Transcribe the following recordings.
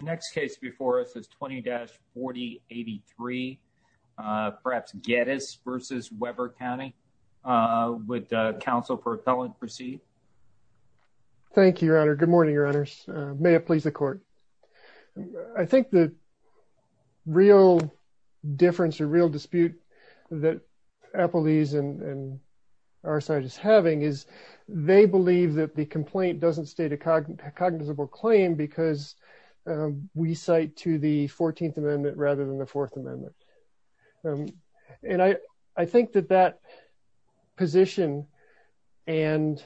Next case before us is 20-4083, perhaps Geddes v. Weber County. Would counsel for appellant proceed? Thank you, your honor. Good morning, your honors. May it please the court. I think the real difference or real dispute that Applebee's and our side is having is that they believe that the complaint doesn't state a cognizable claim because we cite to the 14th amendment rather than the 4th amendment. And I think that that position and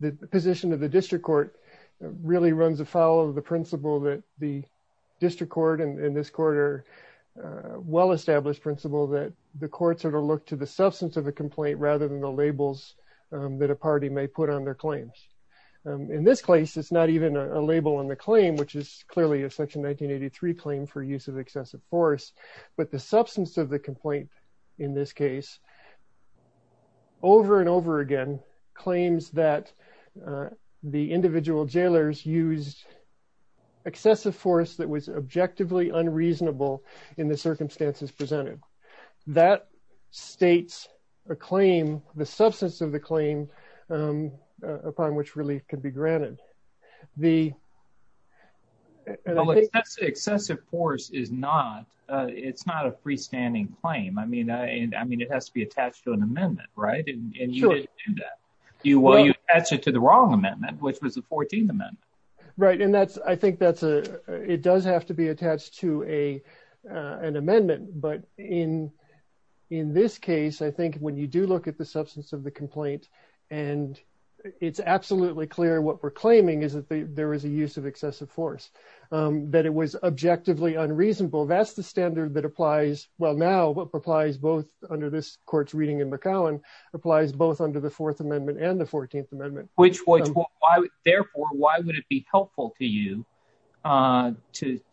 the position of the district court really runs afoul of the principle that the district court and this court are well established principle that the courts are to look to the substance of a complaint rather than the labels that a party may put on their claims. In this case, it's not even a label on the claim, which is clearly a section 1983 claim for use of excessive force. But the substance of the complaint in this case, over and over again, claims that the individual jailers used excessive force that was objectively unreasonable in the circumstances presented. That states a claim, the substance of the claim upon which relief could be granted. The. Excessive force is not it's not a freestanding claim, I mean, I mean, it has to be attached to an amendment, right? And you will you answer to the wrong amendment, which was the 14th amendment. Right. And that's I think that's a it does have to be attached to a an amendment. But in in this case, I think when you do look at the substance of the complaint and it's absolutely clear what we're claiming is that there is a use of excessive force, that it was objectively unreasonable. That's the standard that applies. Well, now what applies both under this court's reading in McCowan applies both under the 4th amendment and the 14th amendment. Which therefore, why would it be helpful to you to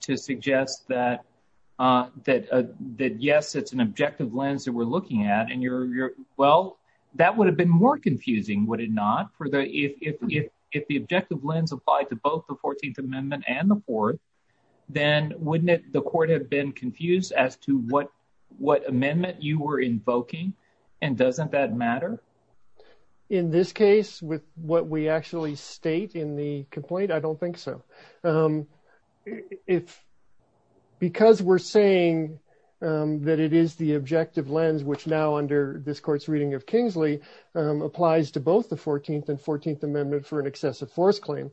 to suggest that that that, yes, it's an objective lens that we're looking at. And you're well, that would have been more confusing, would it not? For the if the objective lens applied to both the 14th amendment and the fourth, then wouldn't the court have been confused as to what what amendment you were invoking? And doesn't that matter? In this case, with what we actually state in the complaint, I don't think so, if because we're saying that it is the objective lens, which now under this court's reading of Kingsley applies to both the 14th and 14th amendment for an excessive force claim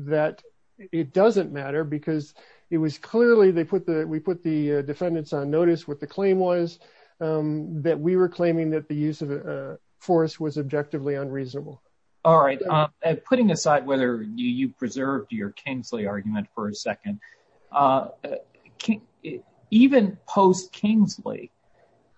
that it doesn't matter because it was clearly they put the we put the defendants on notice with the claim was that we were claiming that the use of force was objectively unreasonable. All right. Putting aside whether you preserved your Kingsley argument for a second, can't even post Kingsley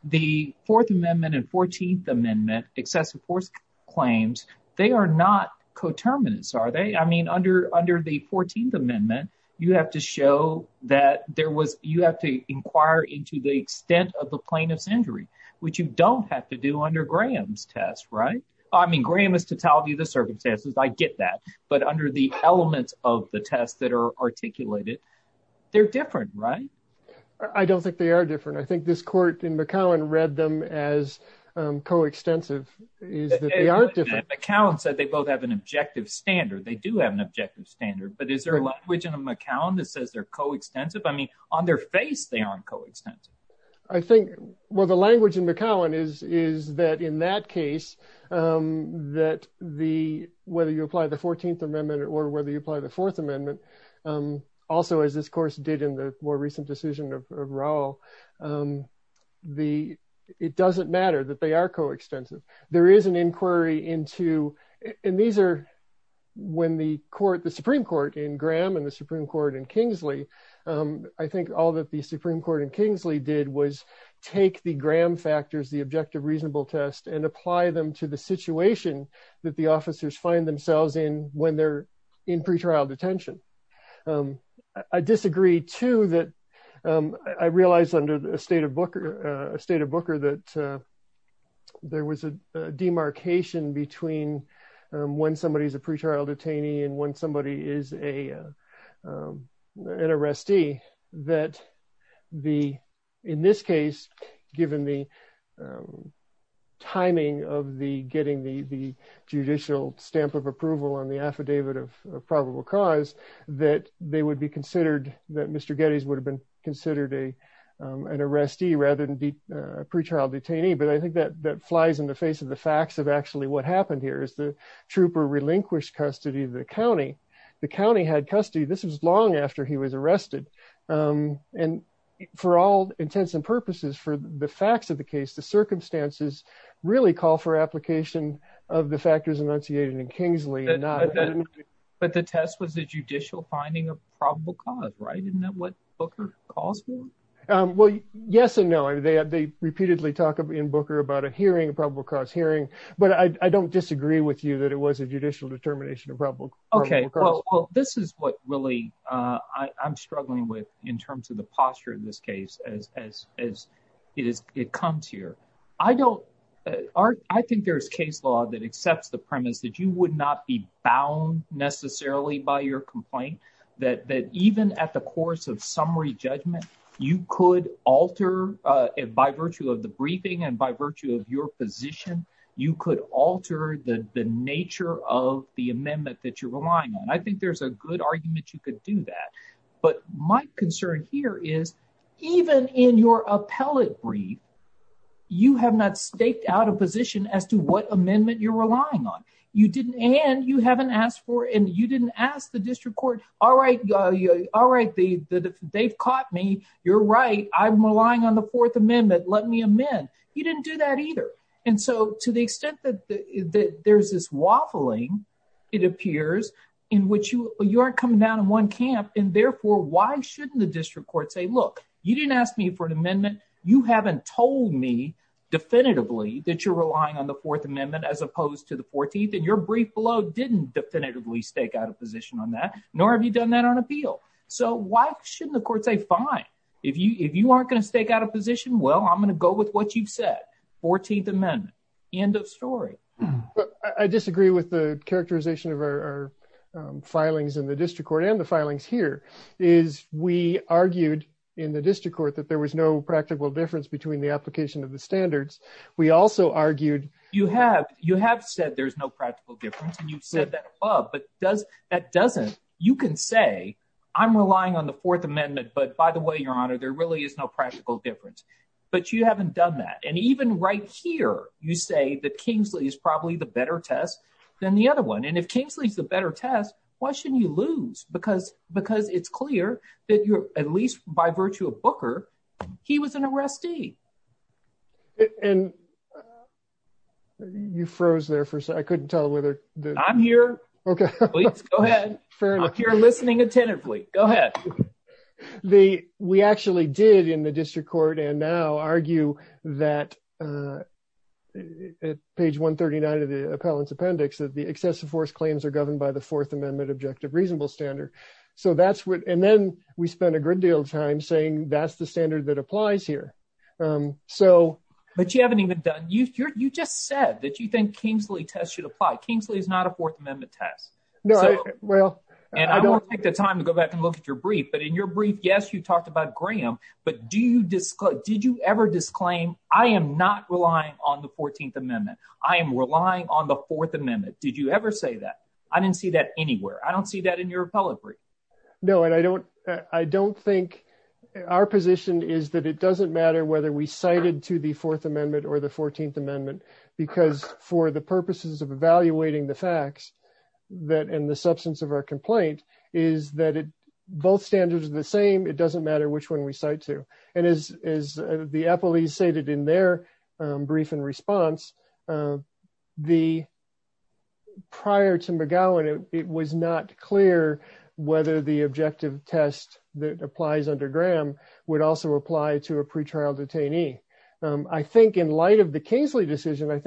the 4th amendment and 14th amendment excessive force claims. They are not coterminous, are they? I mean, under under the 14th amendment, you have to show that there was you have to show the extent of the plaintiff's injury, which you don't have to do under Graham's test. Right. I mean, Graham is to tell you the circumstances. I get that. But under the elements of the tests that are articulated, they're different. Right. I don't think they are different. I think this court in McCowan read them as coextensive is that they aren't different. McCowan said they both have an objective standard. They do have an objective standard. But is there a language in a McCowan that says they're coextensive? I mean, on their face, they aren't coextensive. I think what the language in McCowan is, is that in that case, that the whether you apply the 14th amendment or whether you apply the 4th amendment, also, as this course did in the more recent decision of Raul, the it doesn't matter that they are coextensive. There is an inquiry into and these are when the court, the Supreme Court in Graham and the Supreme Court in Kingsley, I think all that the Supreme Court in Kingsley did was take the Graham factors, the objective reasonable test and apply them to the situation that the officers find themselves in when they're in pretrial detention. I disagree, too, that I realized under a state of a state of Booker that there was a demarcation between when somebody is a pretrial detainee and when somebody is a an arrestee that the in this case, given the timing of the getting the judicial stamp of approval on the affidavit of probable cause, that they would be considered that Mr. Getty's would have been considered a an arrestee rather than a pretrial detainee. But I think that that flies in the face of the facts of actually what happened here is the trooper relinquished custody of the county. The county had custody. This was long after he was arrested. And for all intents and purposes, for the facts of the case, the circumstances really call for application of the factors enunciated in Kingsley. But the test was a judicial finding of probable cause. Right. Isn't that what Booker calls for? Well, yes and no. They repeatedly talk in Booker about a hearing, a probable cause hearing. But I don't disagree with you that it was a judicial determination of probable. OK, well, this is what really I'm struggling with in terms of the posture of this case as as it is. It comes here. I don't I think there is case law that accepts the premise that you would not be bound necessarily by your complaint, that that even at the course of summary judgment, you could alter it by virtue of the briefing and by virtue of your position. You could alter the nature of the amendment that you're relying on. I think there's a good argument you could do that. But my concern here is even in your appellate brief, you have not staked out a position as to what amendment you're relying on. You didn't and you haven't asked for and you didn't ask the district court. All right. All right. They've caught me. You're right. I'm relying on the Fourth Amendment. Let me amend. You didn't do that either. And so to the extent that there's this waffling, it appears in which you are coming down in one camp. And therefore, why shouldn't the district court say, look, you didn't ask me for an amendment. You haven't told me definitively that you're relying on the Fourth Amendment as opposed to the 14th. And your brief below didn't definitively stake out a position on that, nor have you done that on appeal. So why? Why shouldn't the court say, fine, if you if you aren't going to stake out a position? Well, I'm going to go with what you've said. Fourteenth Amendment. End of story. I disagree with the characterization of our filings in the district court and the filings here is we argued in the district court that there was no practical difference between the application of the standards. We also argued you have you have said there's no practical difference. And you've said that. But does that doesn't you can say I'm relying on the Fourth Amendment. But by the way, your honor, there really is no practical difference. But you haven't done that. And even right here, you say that Kingsley is probably the better test than the other one. And if Kingsley is the better test, why shouldn't you lose? Because because it's clear that you're at least by virtue of Booker, he was an arrestee. And. You froze there for I couldn't tell whether I'm here. OK, go ahead. You're listening attentively. Go ahead. The we actually did in the district court and now argue that page 139 of the appellant's appendix that the excessive force claims are governed by the Fourth Amendment objective reasonable standard. So that's what and then we spent a good deal of time saying that's the standard that applies here. So. But you haven't even done you. You just said that you think Kingsley test should apply. Kingsley is not a Fourth Amendment test. No. Well, and I don't take the time to go back and look at your brief, but in your brief, yes, you talked about Graham. But do you did you ever disclaim I am not relying on the 14th Amendment? I am relying on the Fourth Amendment. Did you ever say that? I didn't see that anywhere. I don't see that in your appellate brief. No, and I don't I don't think our position is that it doesn't matter whether we cited to the Fourth Amendment or the 14th Amendment, because for the purposes of evaluating the facts that in the substance of our complaint is that both standards are the same. It doesn't matter which one we cite to. And as the appellees stated in their brief in response, the. Prior to McGowan, it was not clear whether the objective test that applies under Graham would also apply to a pretrial detainee, I think, in light of the Kingsley decision, I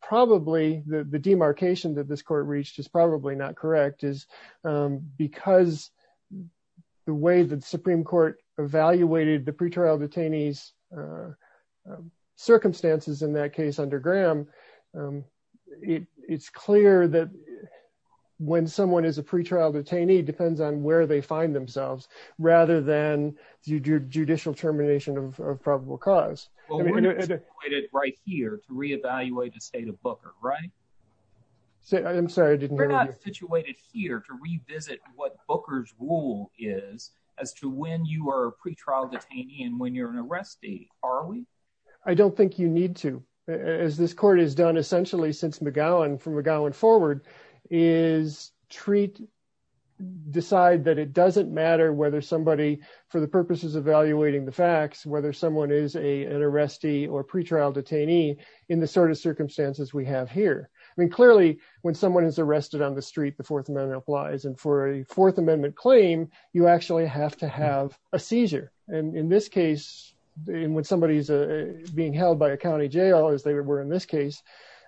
probably the demarcation that this court reached is probably not correct is because the way the Supreme Court evaluated the pretrial detainees circumstances in that case under Graham, it's clear that when someone is a pretrial detainee depends on where they find themselves rather than judicial termination of probable cause. Well, we're not situated right here to re-evaluate the state of Booker, right? So I'm sorry, I didn't. We're not situated here to revisit what Booker's rule is as to when you are a pretrial detainee and when you're an arrestee, are we? I don't think you need to, as this court has done essentially since McGowan from McGowan forward is treat decide that it doesn't matter whether somebody for the purposes of evaluating the facts, whether someone is a an arrestee or pretrial detainee in the sort of circumstances we have here. I mean, clearly, when someone is arrested on the street, the Fourth Amendment applies and for a Fourth Amendment claim, you actually have to have a seizure. And in this case, when somebody is being held by a county jail, as they were in this case,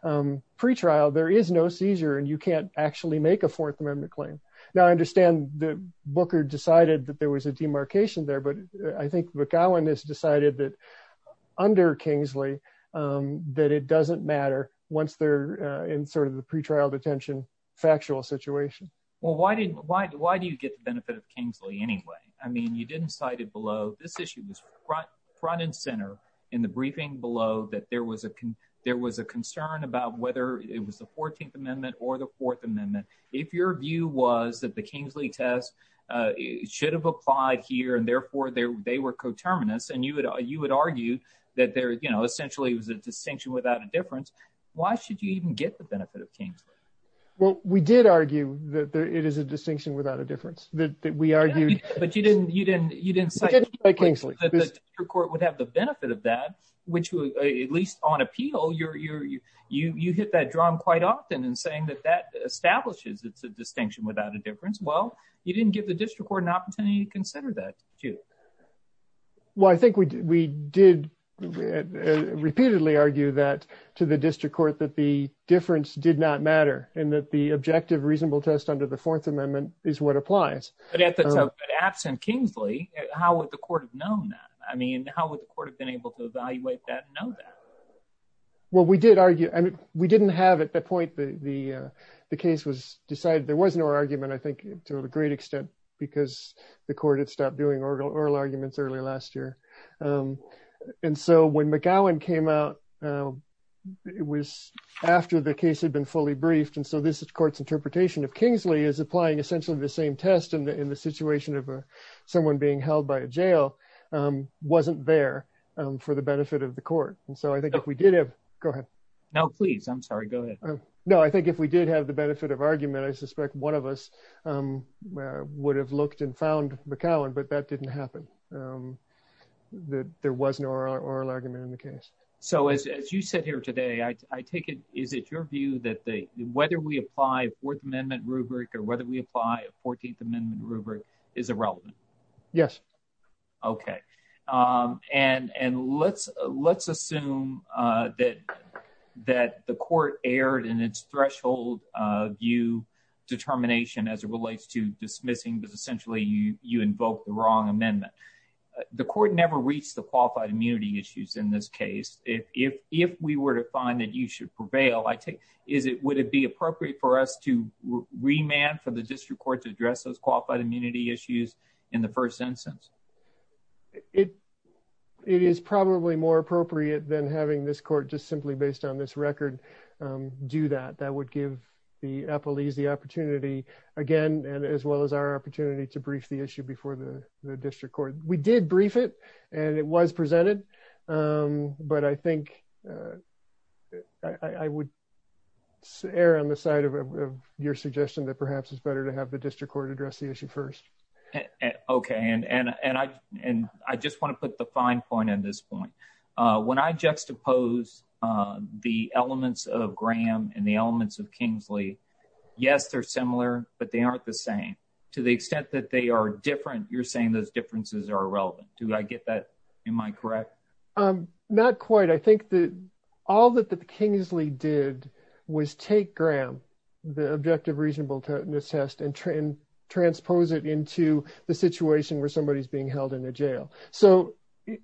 pretrial, there is no seizure and you can't actually make a Fourth Amendment claim. Now, I understand that Booker decided that there was a demarcation there, but I think McGowan has decided that under Kingsley, that it doesn't matter once they're in sort of the pretrial detention factual situation. Well, why do you get the benefit of Kingsley anyway? I mean, you didn't cite it below. This issue was front and center in the briefing below that there was a there was a concern about whether it was the 14th Amendment or the Fourth Amendment. If your view was that the Kingsley test should have applied here and therefore they were coterminous and you would you would argue that there essentially was a distinction without a difference. Why should you even get the benefit of Kingsley? Well, we did argue that it is a distinction without a difference that we argued. But you didn't you didn't you didn't say Kingsley would have the benefit of that, which is it's a distinction without a difference. Well, you didn't give the district court an opportunity to consider that, too. Well, I think we did repeatedly argue that to the district court that the difference did not matter and that the objective reasonable test under the Fourth Amendment is what applies. But absent Kingsley, how would the court have known that? I mean, how would the court have been able to evaluate that and know that? Well, we did argue and we didn't have at that point the the the case was decided, there was no argument, I think, to a great extent because the court had stopped doing oral arguments early last year. And so when McGowan came out, it was after the case had been fully briefed. And so this court's interpretation of Kingsley is applying essentially the same test in the situation of someone being held by a jail wasn't there for the benefit of the court. And so I think if we did have. Go ahead. No, please. I'm sorry. Go ahead. No, I think if we did have the benefit of argument, I suspect one of us would have looked and found McGowan. But that didn't happen. There was no oral argument in the case. So as you said here today, I take it. Is it your view that the whether we apply Fourth Amendment rubric or whether we apply a 14th Amendment rubric is irrelevant? Yes. OK. And and let's let's assume that that the court erred in its threshold view determination as it relates to dismissing, but essentially you invoke the wrong amendment. The court never reached the qualified immunity issues in this case. If if if we were to find that you should prevail, I take is it would it be appropriate for us to remand for the district court to address those qualified immunity issues in the first instance? It it is probably more appropriate than having this court just simply based on this record do that. That would give the police the opportunity again and as well as our opportunity to brief the issue before the district court. We did brief it and it was presented. But I think I would err on the side of your suggestion that perhaps it's better to have the district court address the issue first. OK, and and and I and I just want to put the fine point in this point, when I juxtapose the elements of Graham and the elements of Kingsley, yes, they're similar, but they aren't the same to the extent that they are different. You're saying those differences are irrelevant. Do I get that? Am I correct? Not quite. I think that all that the Kingsley did was take Graham, the objective reasonableness test and transpose it into the situation where somebody is being held in a jail. So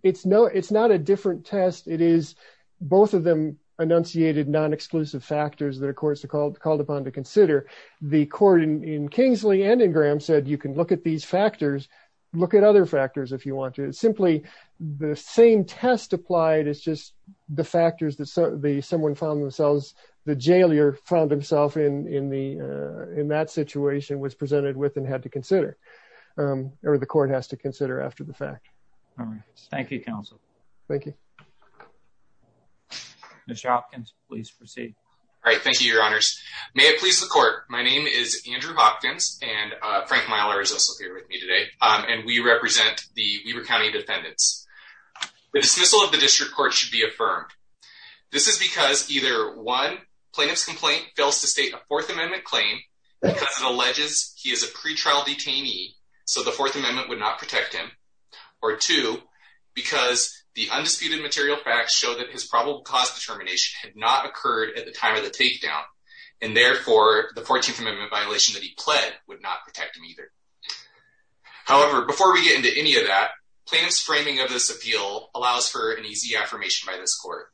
it's no it's not a different test. It is both of them enunciated non-exclusive factors that are courts are called called upon to consider. The court in Kingsley and in Graham said you can look at these factors, look at other factors if you want to. Simply the same test applied is just the factors that someone found themselves, the in that situation, was presented with and had to consider or the court has to consider after the fact. Thank you, counsel. Thank you. Mr. Hopkins, please proceed. All right. Thank you, your honors. May it please the court. My name is Andrew Hopkins and Frank Myler is also here with me today. And we represent the Weber County defendants. The dismissal of the district court should be affirmed. This is because either one plaintiff's complaint fails to state a Fourth Amendment claim because it alleges he is a pretrial detainee. So the Fourth Amendment would not protect him or two because the undisputed material facts show that his probable cause determination had not occurred at the time of the takedown. And therefore, the 14th Amendment violation that he pled would not protect him either. However, before we get into any of that, plaintiff's framing of this appeal allows for an easy affirmation by this court.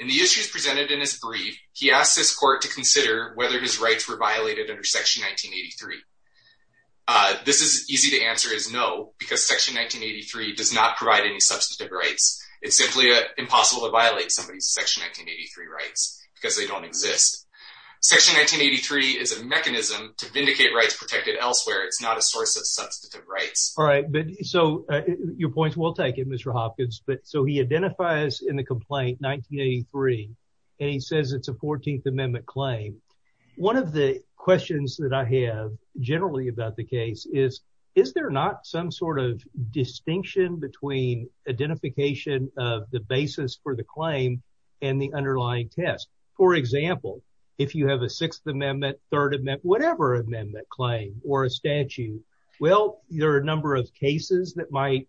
In the issues presented in his brief, he asked this court to consider whether his rights were violated under Section 1983. This is easy to answer is no, because Section 1983 does not provide any substantive rights. It's simply impossible to violate somebody's Section 1983 rights because they don't exist. Section 1983 is a mechanism to vindicate rights protected elsewhere. It's not a source of substantive rights. All right. So your points will take it, Mr. Hopkins. But so he identifies in the complaint 1983 and he says it's a 14th Amendment claim. One of the questions that I have generally about the case is, is there not some sort of distinction between identification of the basis for the claim and the underlying test? For example, if you have a Sixth Amendment, Third Amendment, whatever Amendment claim or a statute. Well, there are a number of cases that might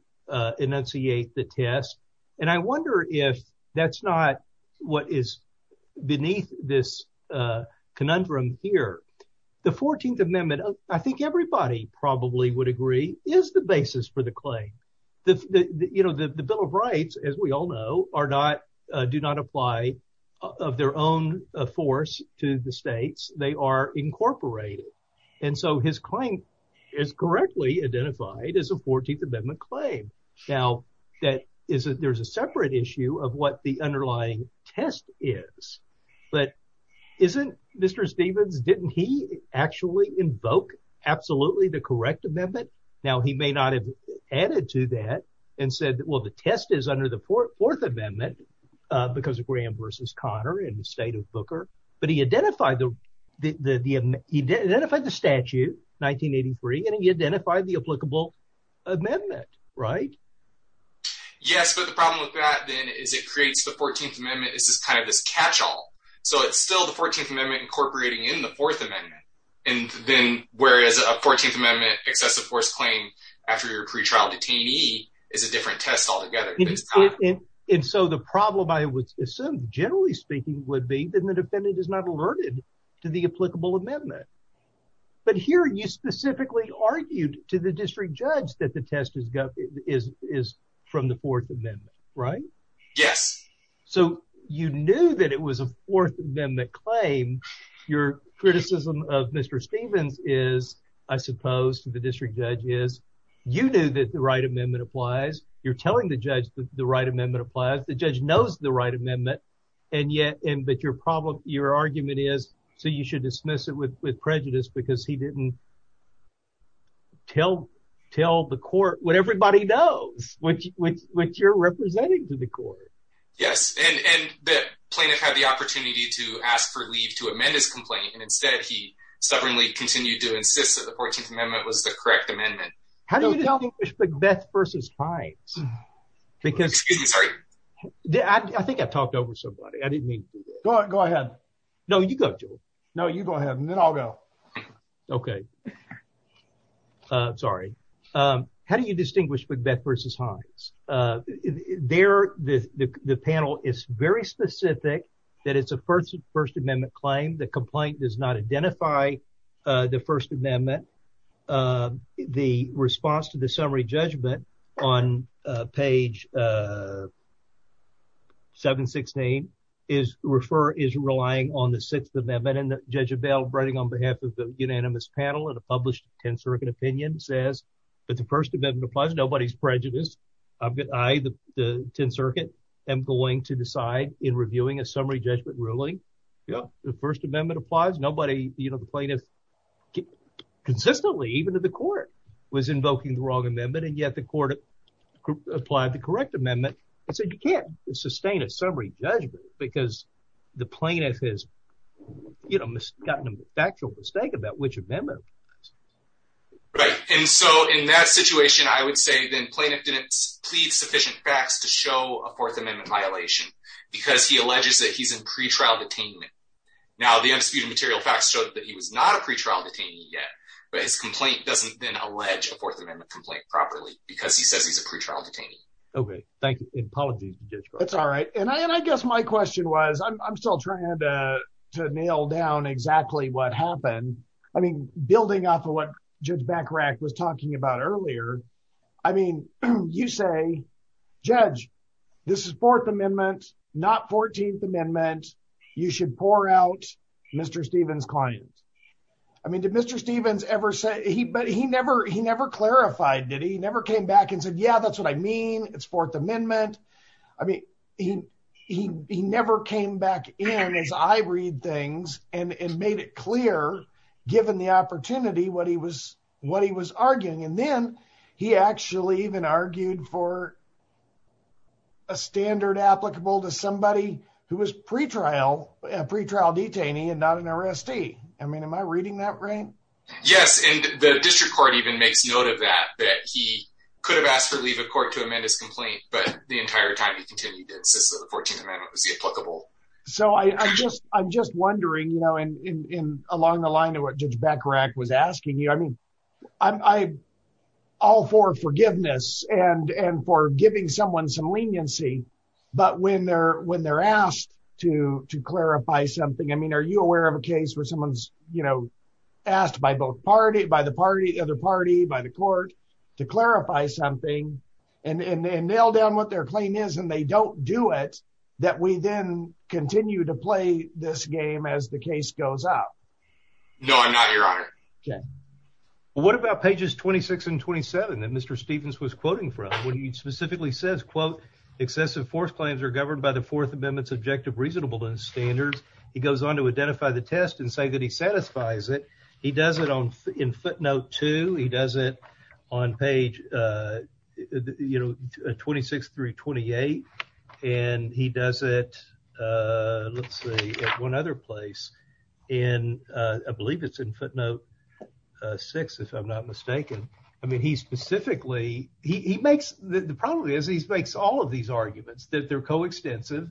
enunciate the test. And I wonder if that's not what is beneath this conundrum here. The 14th Amendment, I think everybody probably would agree, is the basis for the claim. The, you know, the Bill of Rights, as we all know, are not, do not apply of their own force to the states. They are incorporated. And so his claim is correctly identified as a 14th Amendment claim. Now, that is, there's a separate issue of what the underlying test is. But isn't Mr. Stevens, didn't he actually invoke absolutely the correct amendment? Now, he may not have added to that and said, well, the test is under the fourth amendment because of Graham versus Conner in the state of Booker. But he identified the statute, 1983, and he identified the applicable amendment, right? Yes, but the problem with that, then, is it creates the 14th Amendment is this kind of this catch all. So it's still the 14th Amendment incorporating in the fourth amendment. And then whereas a 14th Amendment excessive force claim after your pretrial detainee is a different test altogether. And so the problem, I would assume, generally speaking, would be that the defendant is not alerted to the applicable amendment. But here you specifically argued to the district judge that the test is from the fourth amendment, right? Yes. So you knew that it was a fourth amendment claim. Your criticism of Mr. Stevens is, I suppose, to the district judge is you knew that the right amendment applies. You're telling the judge that the right amendment applies. The judge knows the right amendment. And yet, but your argument is, so you should dismiss it with prejudice because he didn't tell the court what everybody knows, which you're representing to the court. Yes. And the plaintiff had the opportunity to ask for leave to amend his complaint. And instead, he stubbornly continued to insist that the 14th Amendment was the correct amendment. How do you distinguish Macbeth versus Hines? Because I think I talked over somebody. I didn't mean to. Go ahead. No, you go. No, you go ahead. And then I'll go. OK. Sorry. How do you distinguish Macbeth versus Hines? There, the panel is very specific that it's a First Amendment claim. The complaint does not identify the First Amendment. The response to the summary judgment on page 716 is refer is relying on the Sixth Amendment. And Judge Abell, writing on behalf of the unanimous panel and a published 10th Circuit opinion, says that the First Amendment applies. Nobody's prejudiced. I, the 10th Circuit, am going to decide in reviewing a summary judgment ruling. Yeah. The First Amendment applies. You know, the plaintiff consistently, even to the court, was invoking the wrong amendment. And yet the court applied the correct amendment and said you can't sustain a summary judgment because the plaintiff has gotten a factual mistake about which amendment. Right. And so in that situation, I would say then plaintiff didn't plead sufficient facts to show a Fourth Amendment violation because he alleges that he's in pretrial detainment. Now, the undisputed material facts showed that he was not a pretrial detainee yet, but his complaint doesn't then allege a Fourth Amendment complaint properly because he says he's a pretrial detainee. Okay. Thank you. Apologies, Judge. That's all right. And I guess my question was, I'm still trying to nail down exactly what happened. I mean, building off of what Judge Bacharach was talking about earlier. I mean, you say, Judge, this is Fourth Amendment, not 14th Amendment. You should pour out Mr. Stevens' client. I mean, did Mr. Stevens ever say, but he never clarified, did he? He never came back and said, yeah, that's what I mean. It's Fourth Amendment. I mean, he never came back in as I read things and made it clear, given the opportunity, what he was arguing. And then he actually even argued for a standard applicable to somebody who was a pretrial detainee and not an arrestee. I mean, am I reading that right? Yes. And the district court even makes note of that, that he could have asked for leave of court to amend his complaint, but the entire time he continued to insist that the 14th Amendment was the applicable. So I'm just wondering, along the line of what Judge Bacharach was asking you, I mean, all for forgiveness and for giving someone some leniency. But when they're asked to clarify something, I mean, are you aware of a case where someone's, you know, asked by both party, by the other party, by the court to clarify something and nail down what their claim is, and they don't do it, that we then continue to play this game as the case goes up? No, I'm not, Your Honor. Okay. What about pages 26 and 27 that Mr. Stevens was quoting from, when he specifically says, quote, excessive force claims are governed by the Fourth Amendment's objective reasonableness standards. He goes on to identify the test and say that he satisfies it. He does it on, in footnote two, he does it on page, you know, 26 through 28. And he does it, let's see, at one other place in, I believe it's in footnote six, if I'm not mistaken. I mean, he specifically, he makes, the problem is he makes all of these arguments, that they're coextensive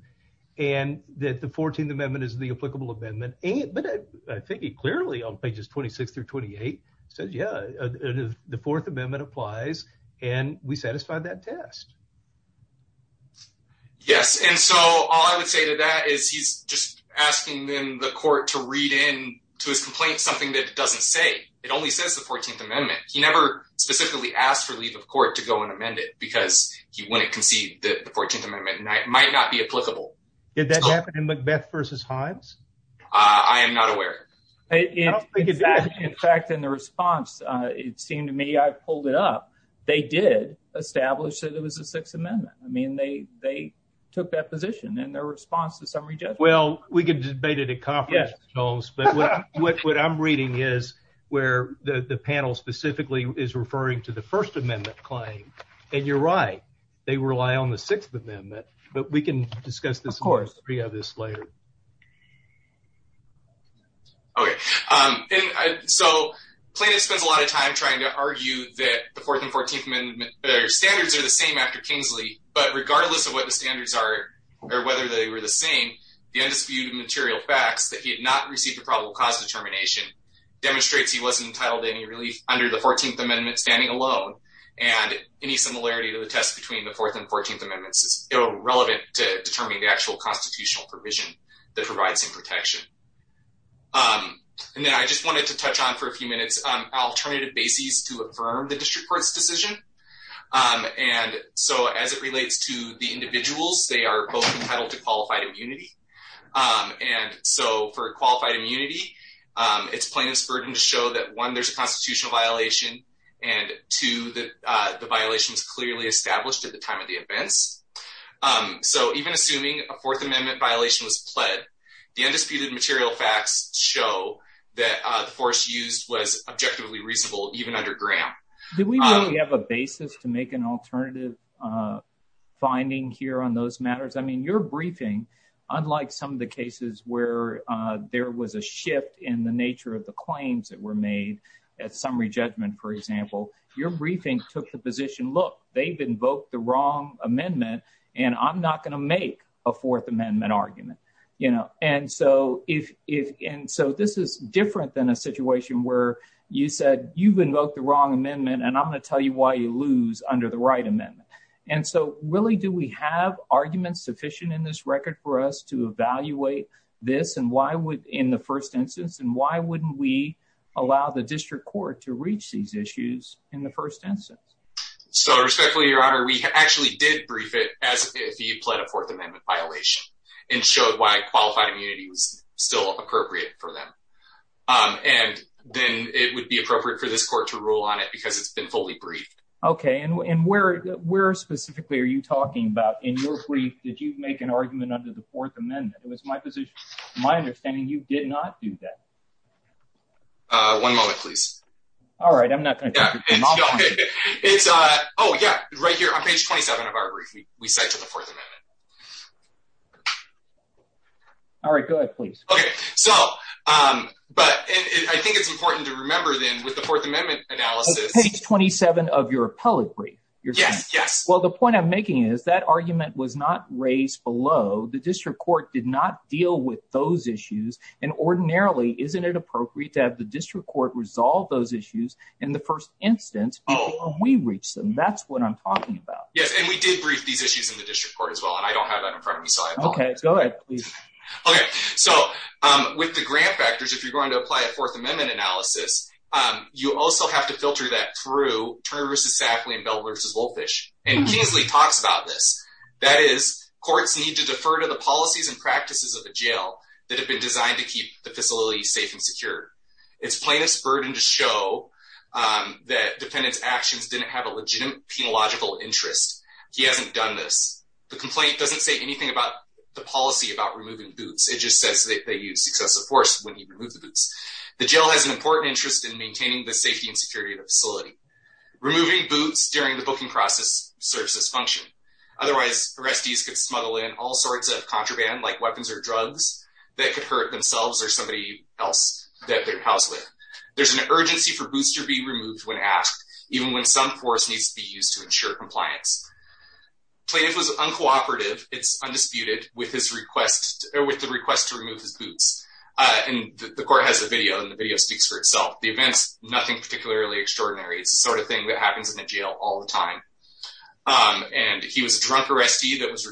and that the Fourteenth Amendment is the applicable amendment. But I think he clearly, on pages 26 through 28, says, yeah, the Fourth Amendment applies, and we satisfy that test. Yes. And so all I would say to that is he's just asking them, the court, to read in to his complaint something that it doesn't say. It only says the Fourteenth Amendment. He never specifically asked for leave of court to go and amend it, because he wouldn't concede that the Fourteenth Amendment might not be applicable. Did that happen in Macbeth versus Hines? I am not aware. In fact, in the response, it seemed to me, I pulled it up, they did establish that there was a Sixth Amendment. I mean, they took that position in their response to summary judgment. Well, we can debate it at conference, but what I'm reading is where the panel specifically is referring to the First Amendment claim. And you're right, they rely on the Sixth Amendment, but we can discuss this in the history of this later. Okay. So Plano spends a lot of time trying to argue that the Fourth and Fourteenth Amendment standards are the same after Kingsley, but regardless of what the standards are, or whether they were the same, the undisputed material facts that he had not received the probable cause determination demonstrates he wasn't entitled to any relief under the Fourteenth Amendment standing alone. And any similarity to the test between the Fourth and Fourteenth Amendments is irrelevant to determining the actual constitutional provision that provides him protection. And then I just wanted to touch on for a few minutes, alternative bases to affirm the district court's decision. And so as it relates to the individuals, they are both entitled to qualified immunity. And so for qualified immunity, it's Plano's burden to show that one, there's a constitutional violation, and two, the violation was clearly established at the time of the events. So even assuming a Fourth Amendment violation was pled, the undisputed material facts show that the force used was objectively reasonable even under Graham. Do we really have a basis to make an alternative finding here on those matters? I mean, your briefing, unlike some of the cases where there was a shift in the nature of the claims that were made at summary judgment, for example, your briefing took the position, look, they've invoked the argument. And so this is different than a situation where you said you've invoked the wrong amendment, and I'm going to tell you why you lose under the right amendment. And so really, do we have arguments sufficient in this record for us to evaluate this in the first instance? And why wouldn't we allow the district court to reach these issues in the first instance? So respectfully, your honor, we actually did brief it as if he pled a Fourth Amendment violation and showed why qualified immunity was still appropriate for them. And then it would be appropriate for this court to rule on it because it's been fully briefed. Okay. And where specifically are you talking about in your brief? Did you make an argument under the Fourth Amendment? It was my position, my understanding, you did not do that. One moment, please. All right. I'm not going to Oh, yeah, right here on page 27 of our brief, we said to the Fourth Amendment. All right, go ahead, please. Okay. So, but I think it's important to remember, then with the Fourth Amendment analysis, page 27 of your appellate brief, you're Yes, yes. Well, the point I'm making is that argument was not raised below the district court did not deal with those issues. And ordinarily, isn't it appropriate to have the That's what I'm talking about. Yes. And we did brief these issues in the district court as well. And I don't have that in front of me. Okay, go ahead, please. Okay. So with the grant factors, if you're going to apply a Fourth Amendment analysis, you also have to filter that through Turner versus Sackley and Bell versus Wolfish. And Kingsley talks about this. That is courts need to defer to the policies and practices of the jail that have been designed to keep the facility safe It's plaintiff's burden to show that defendant's actions didn't have a legitimate penological interest. He hasn't done this. The complaint doesn't say anything about the policy about removing boots. It just says that they use excessive force when you remove the boots. The jail has an important interest in maintaining the safety and security of the facility. Removing boots during the booking process serves this function. Otherwise, arrestees could smuggle in all sorts of contraband like weapons or drugs that could hurt themselves or somebody else that they're housed with. There's an urgency for boots to be removed when asked, even when some force needs to be used to ensure compliance. Plaintiff was uncooperative. It's undisputed with the request to remove his boots. And the court has a video and the video speaks for itself. The events, nothing particularly extraordinary. It's the sort of thing that happens in the jail all the time. And he was a drunk arrestee that was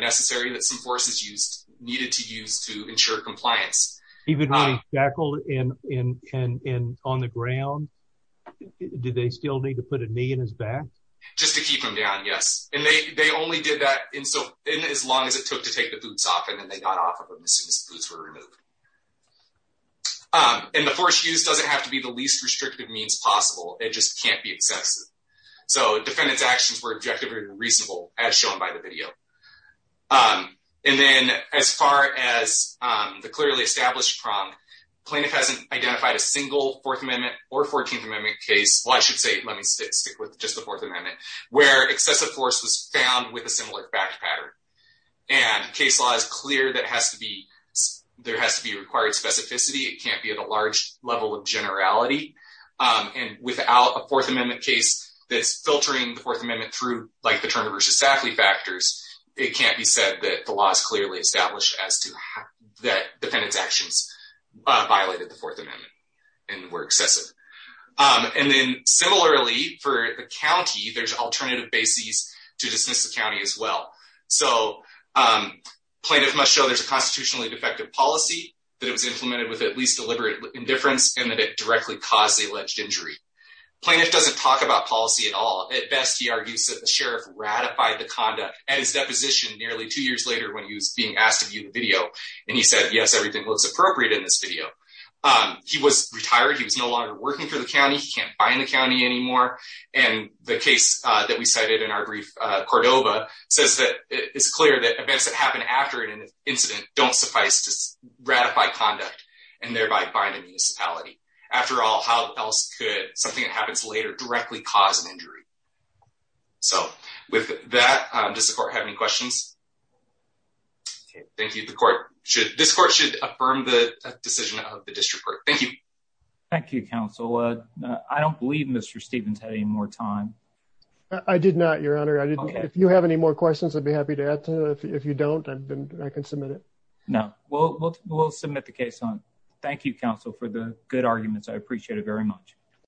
necessary that some forces needed to use to ensure compliance. Even when he's shackled and on the ground, did they still need to put a knee in his back? Just to keep him down, yes. And they only did that in as long as it took to take the boots off and then they got off of him as soon as the boots were removed. And the force used doesn't have to be the least restrictive means possible. It just can't be excessive. So defendant's actions were objective and reasonable as shown by the video. And then as far as the clearly established prong, plaintiff hasn't identified a single Fourth Amendment or Fourteenth Amendment case. Well, I should say, let me stick with just the Fourth Amendment, where excessive force was found with a similar fact pattern. And case law is clear that has to be, there has to be required specificity. It can't be at a large level of generality. And without a Fourth Amendment case that's filtering the Fourth Amendment through the Turner v. Sackley factors, it can't be said that the law is clearly established as to that defendant's actions violated the Fourth Amendment and were excessive. And then similarly for the county, there's alternative bases to dismiss the county as well. So plaintiff must show there's a constitutionally defective policy, that it was implemented with at least deliberate indifference, and that it directly caused the alleged injury. Plaintiff doesn't talk about at all. At best, he argues that the sheriff ratified the conduct at his deposition nearly two years later when he was being asked to view the video. And he said, yes, everything looks appropriate in this video. He was retired. He was no longer working for the county. He can't bind the county anymore. And the case that we cited in our brief, Cordova, says that it's clear that events that happen after an incident don't suffice to ratify conduct and thereby bind a injury. So with that, does the court have any questions? Thank you. The court should, this court should affirm the decision of the district court. Thank you. Thank you, counsel. I don't believe Mr. Stevens had any more time. I did not, your honor. I didn't. If you have any more questions, I'd be happy to add to it. If you don't, I've been, I can submit it. No, we'll, we'll, we'll submit the case on. Thank you, counsel, for the good arguments. I appreciate it very much.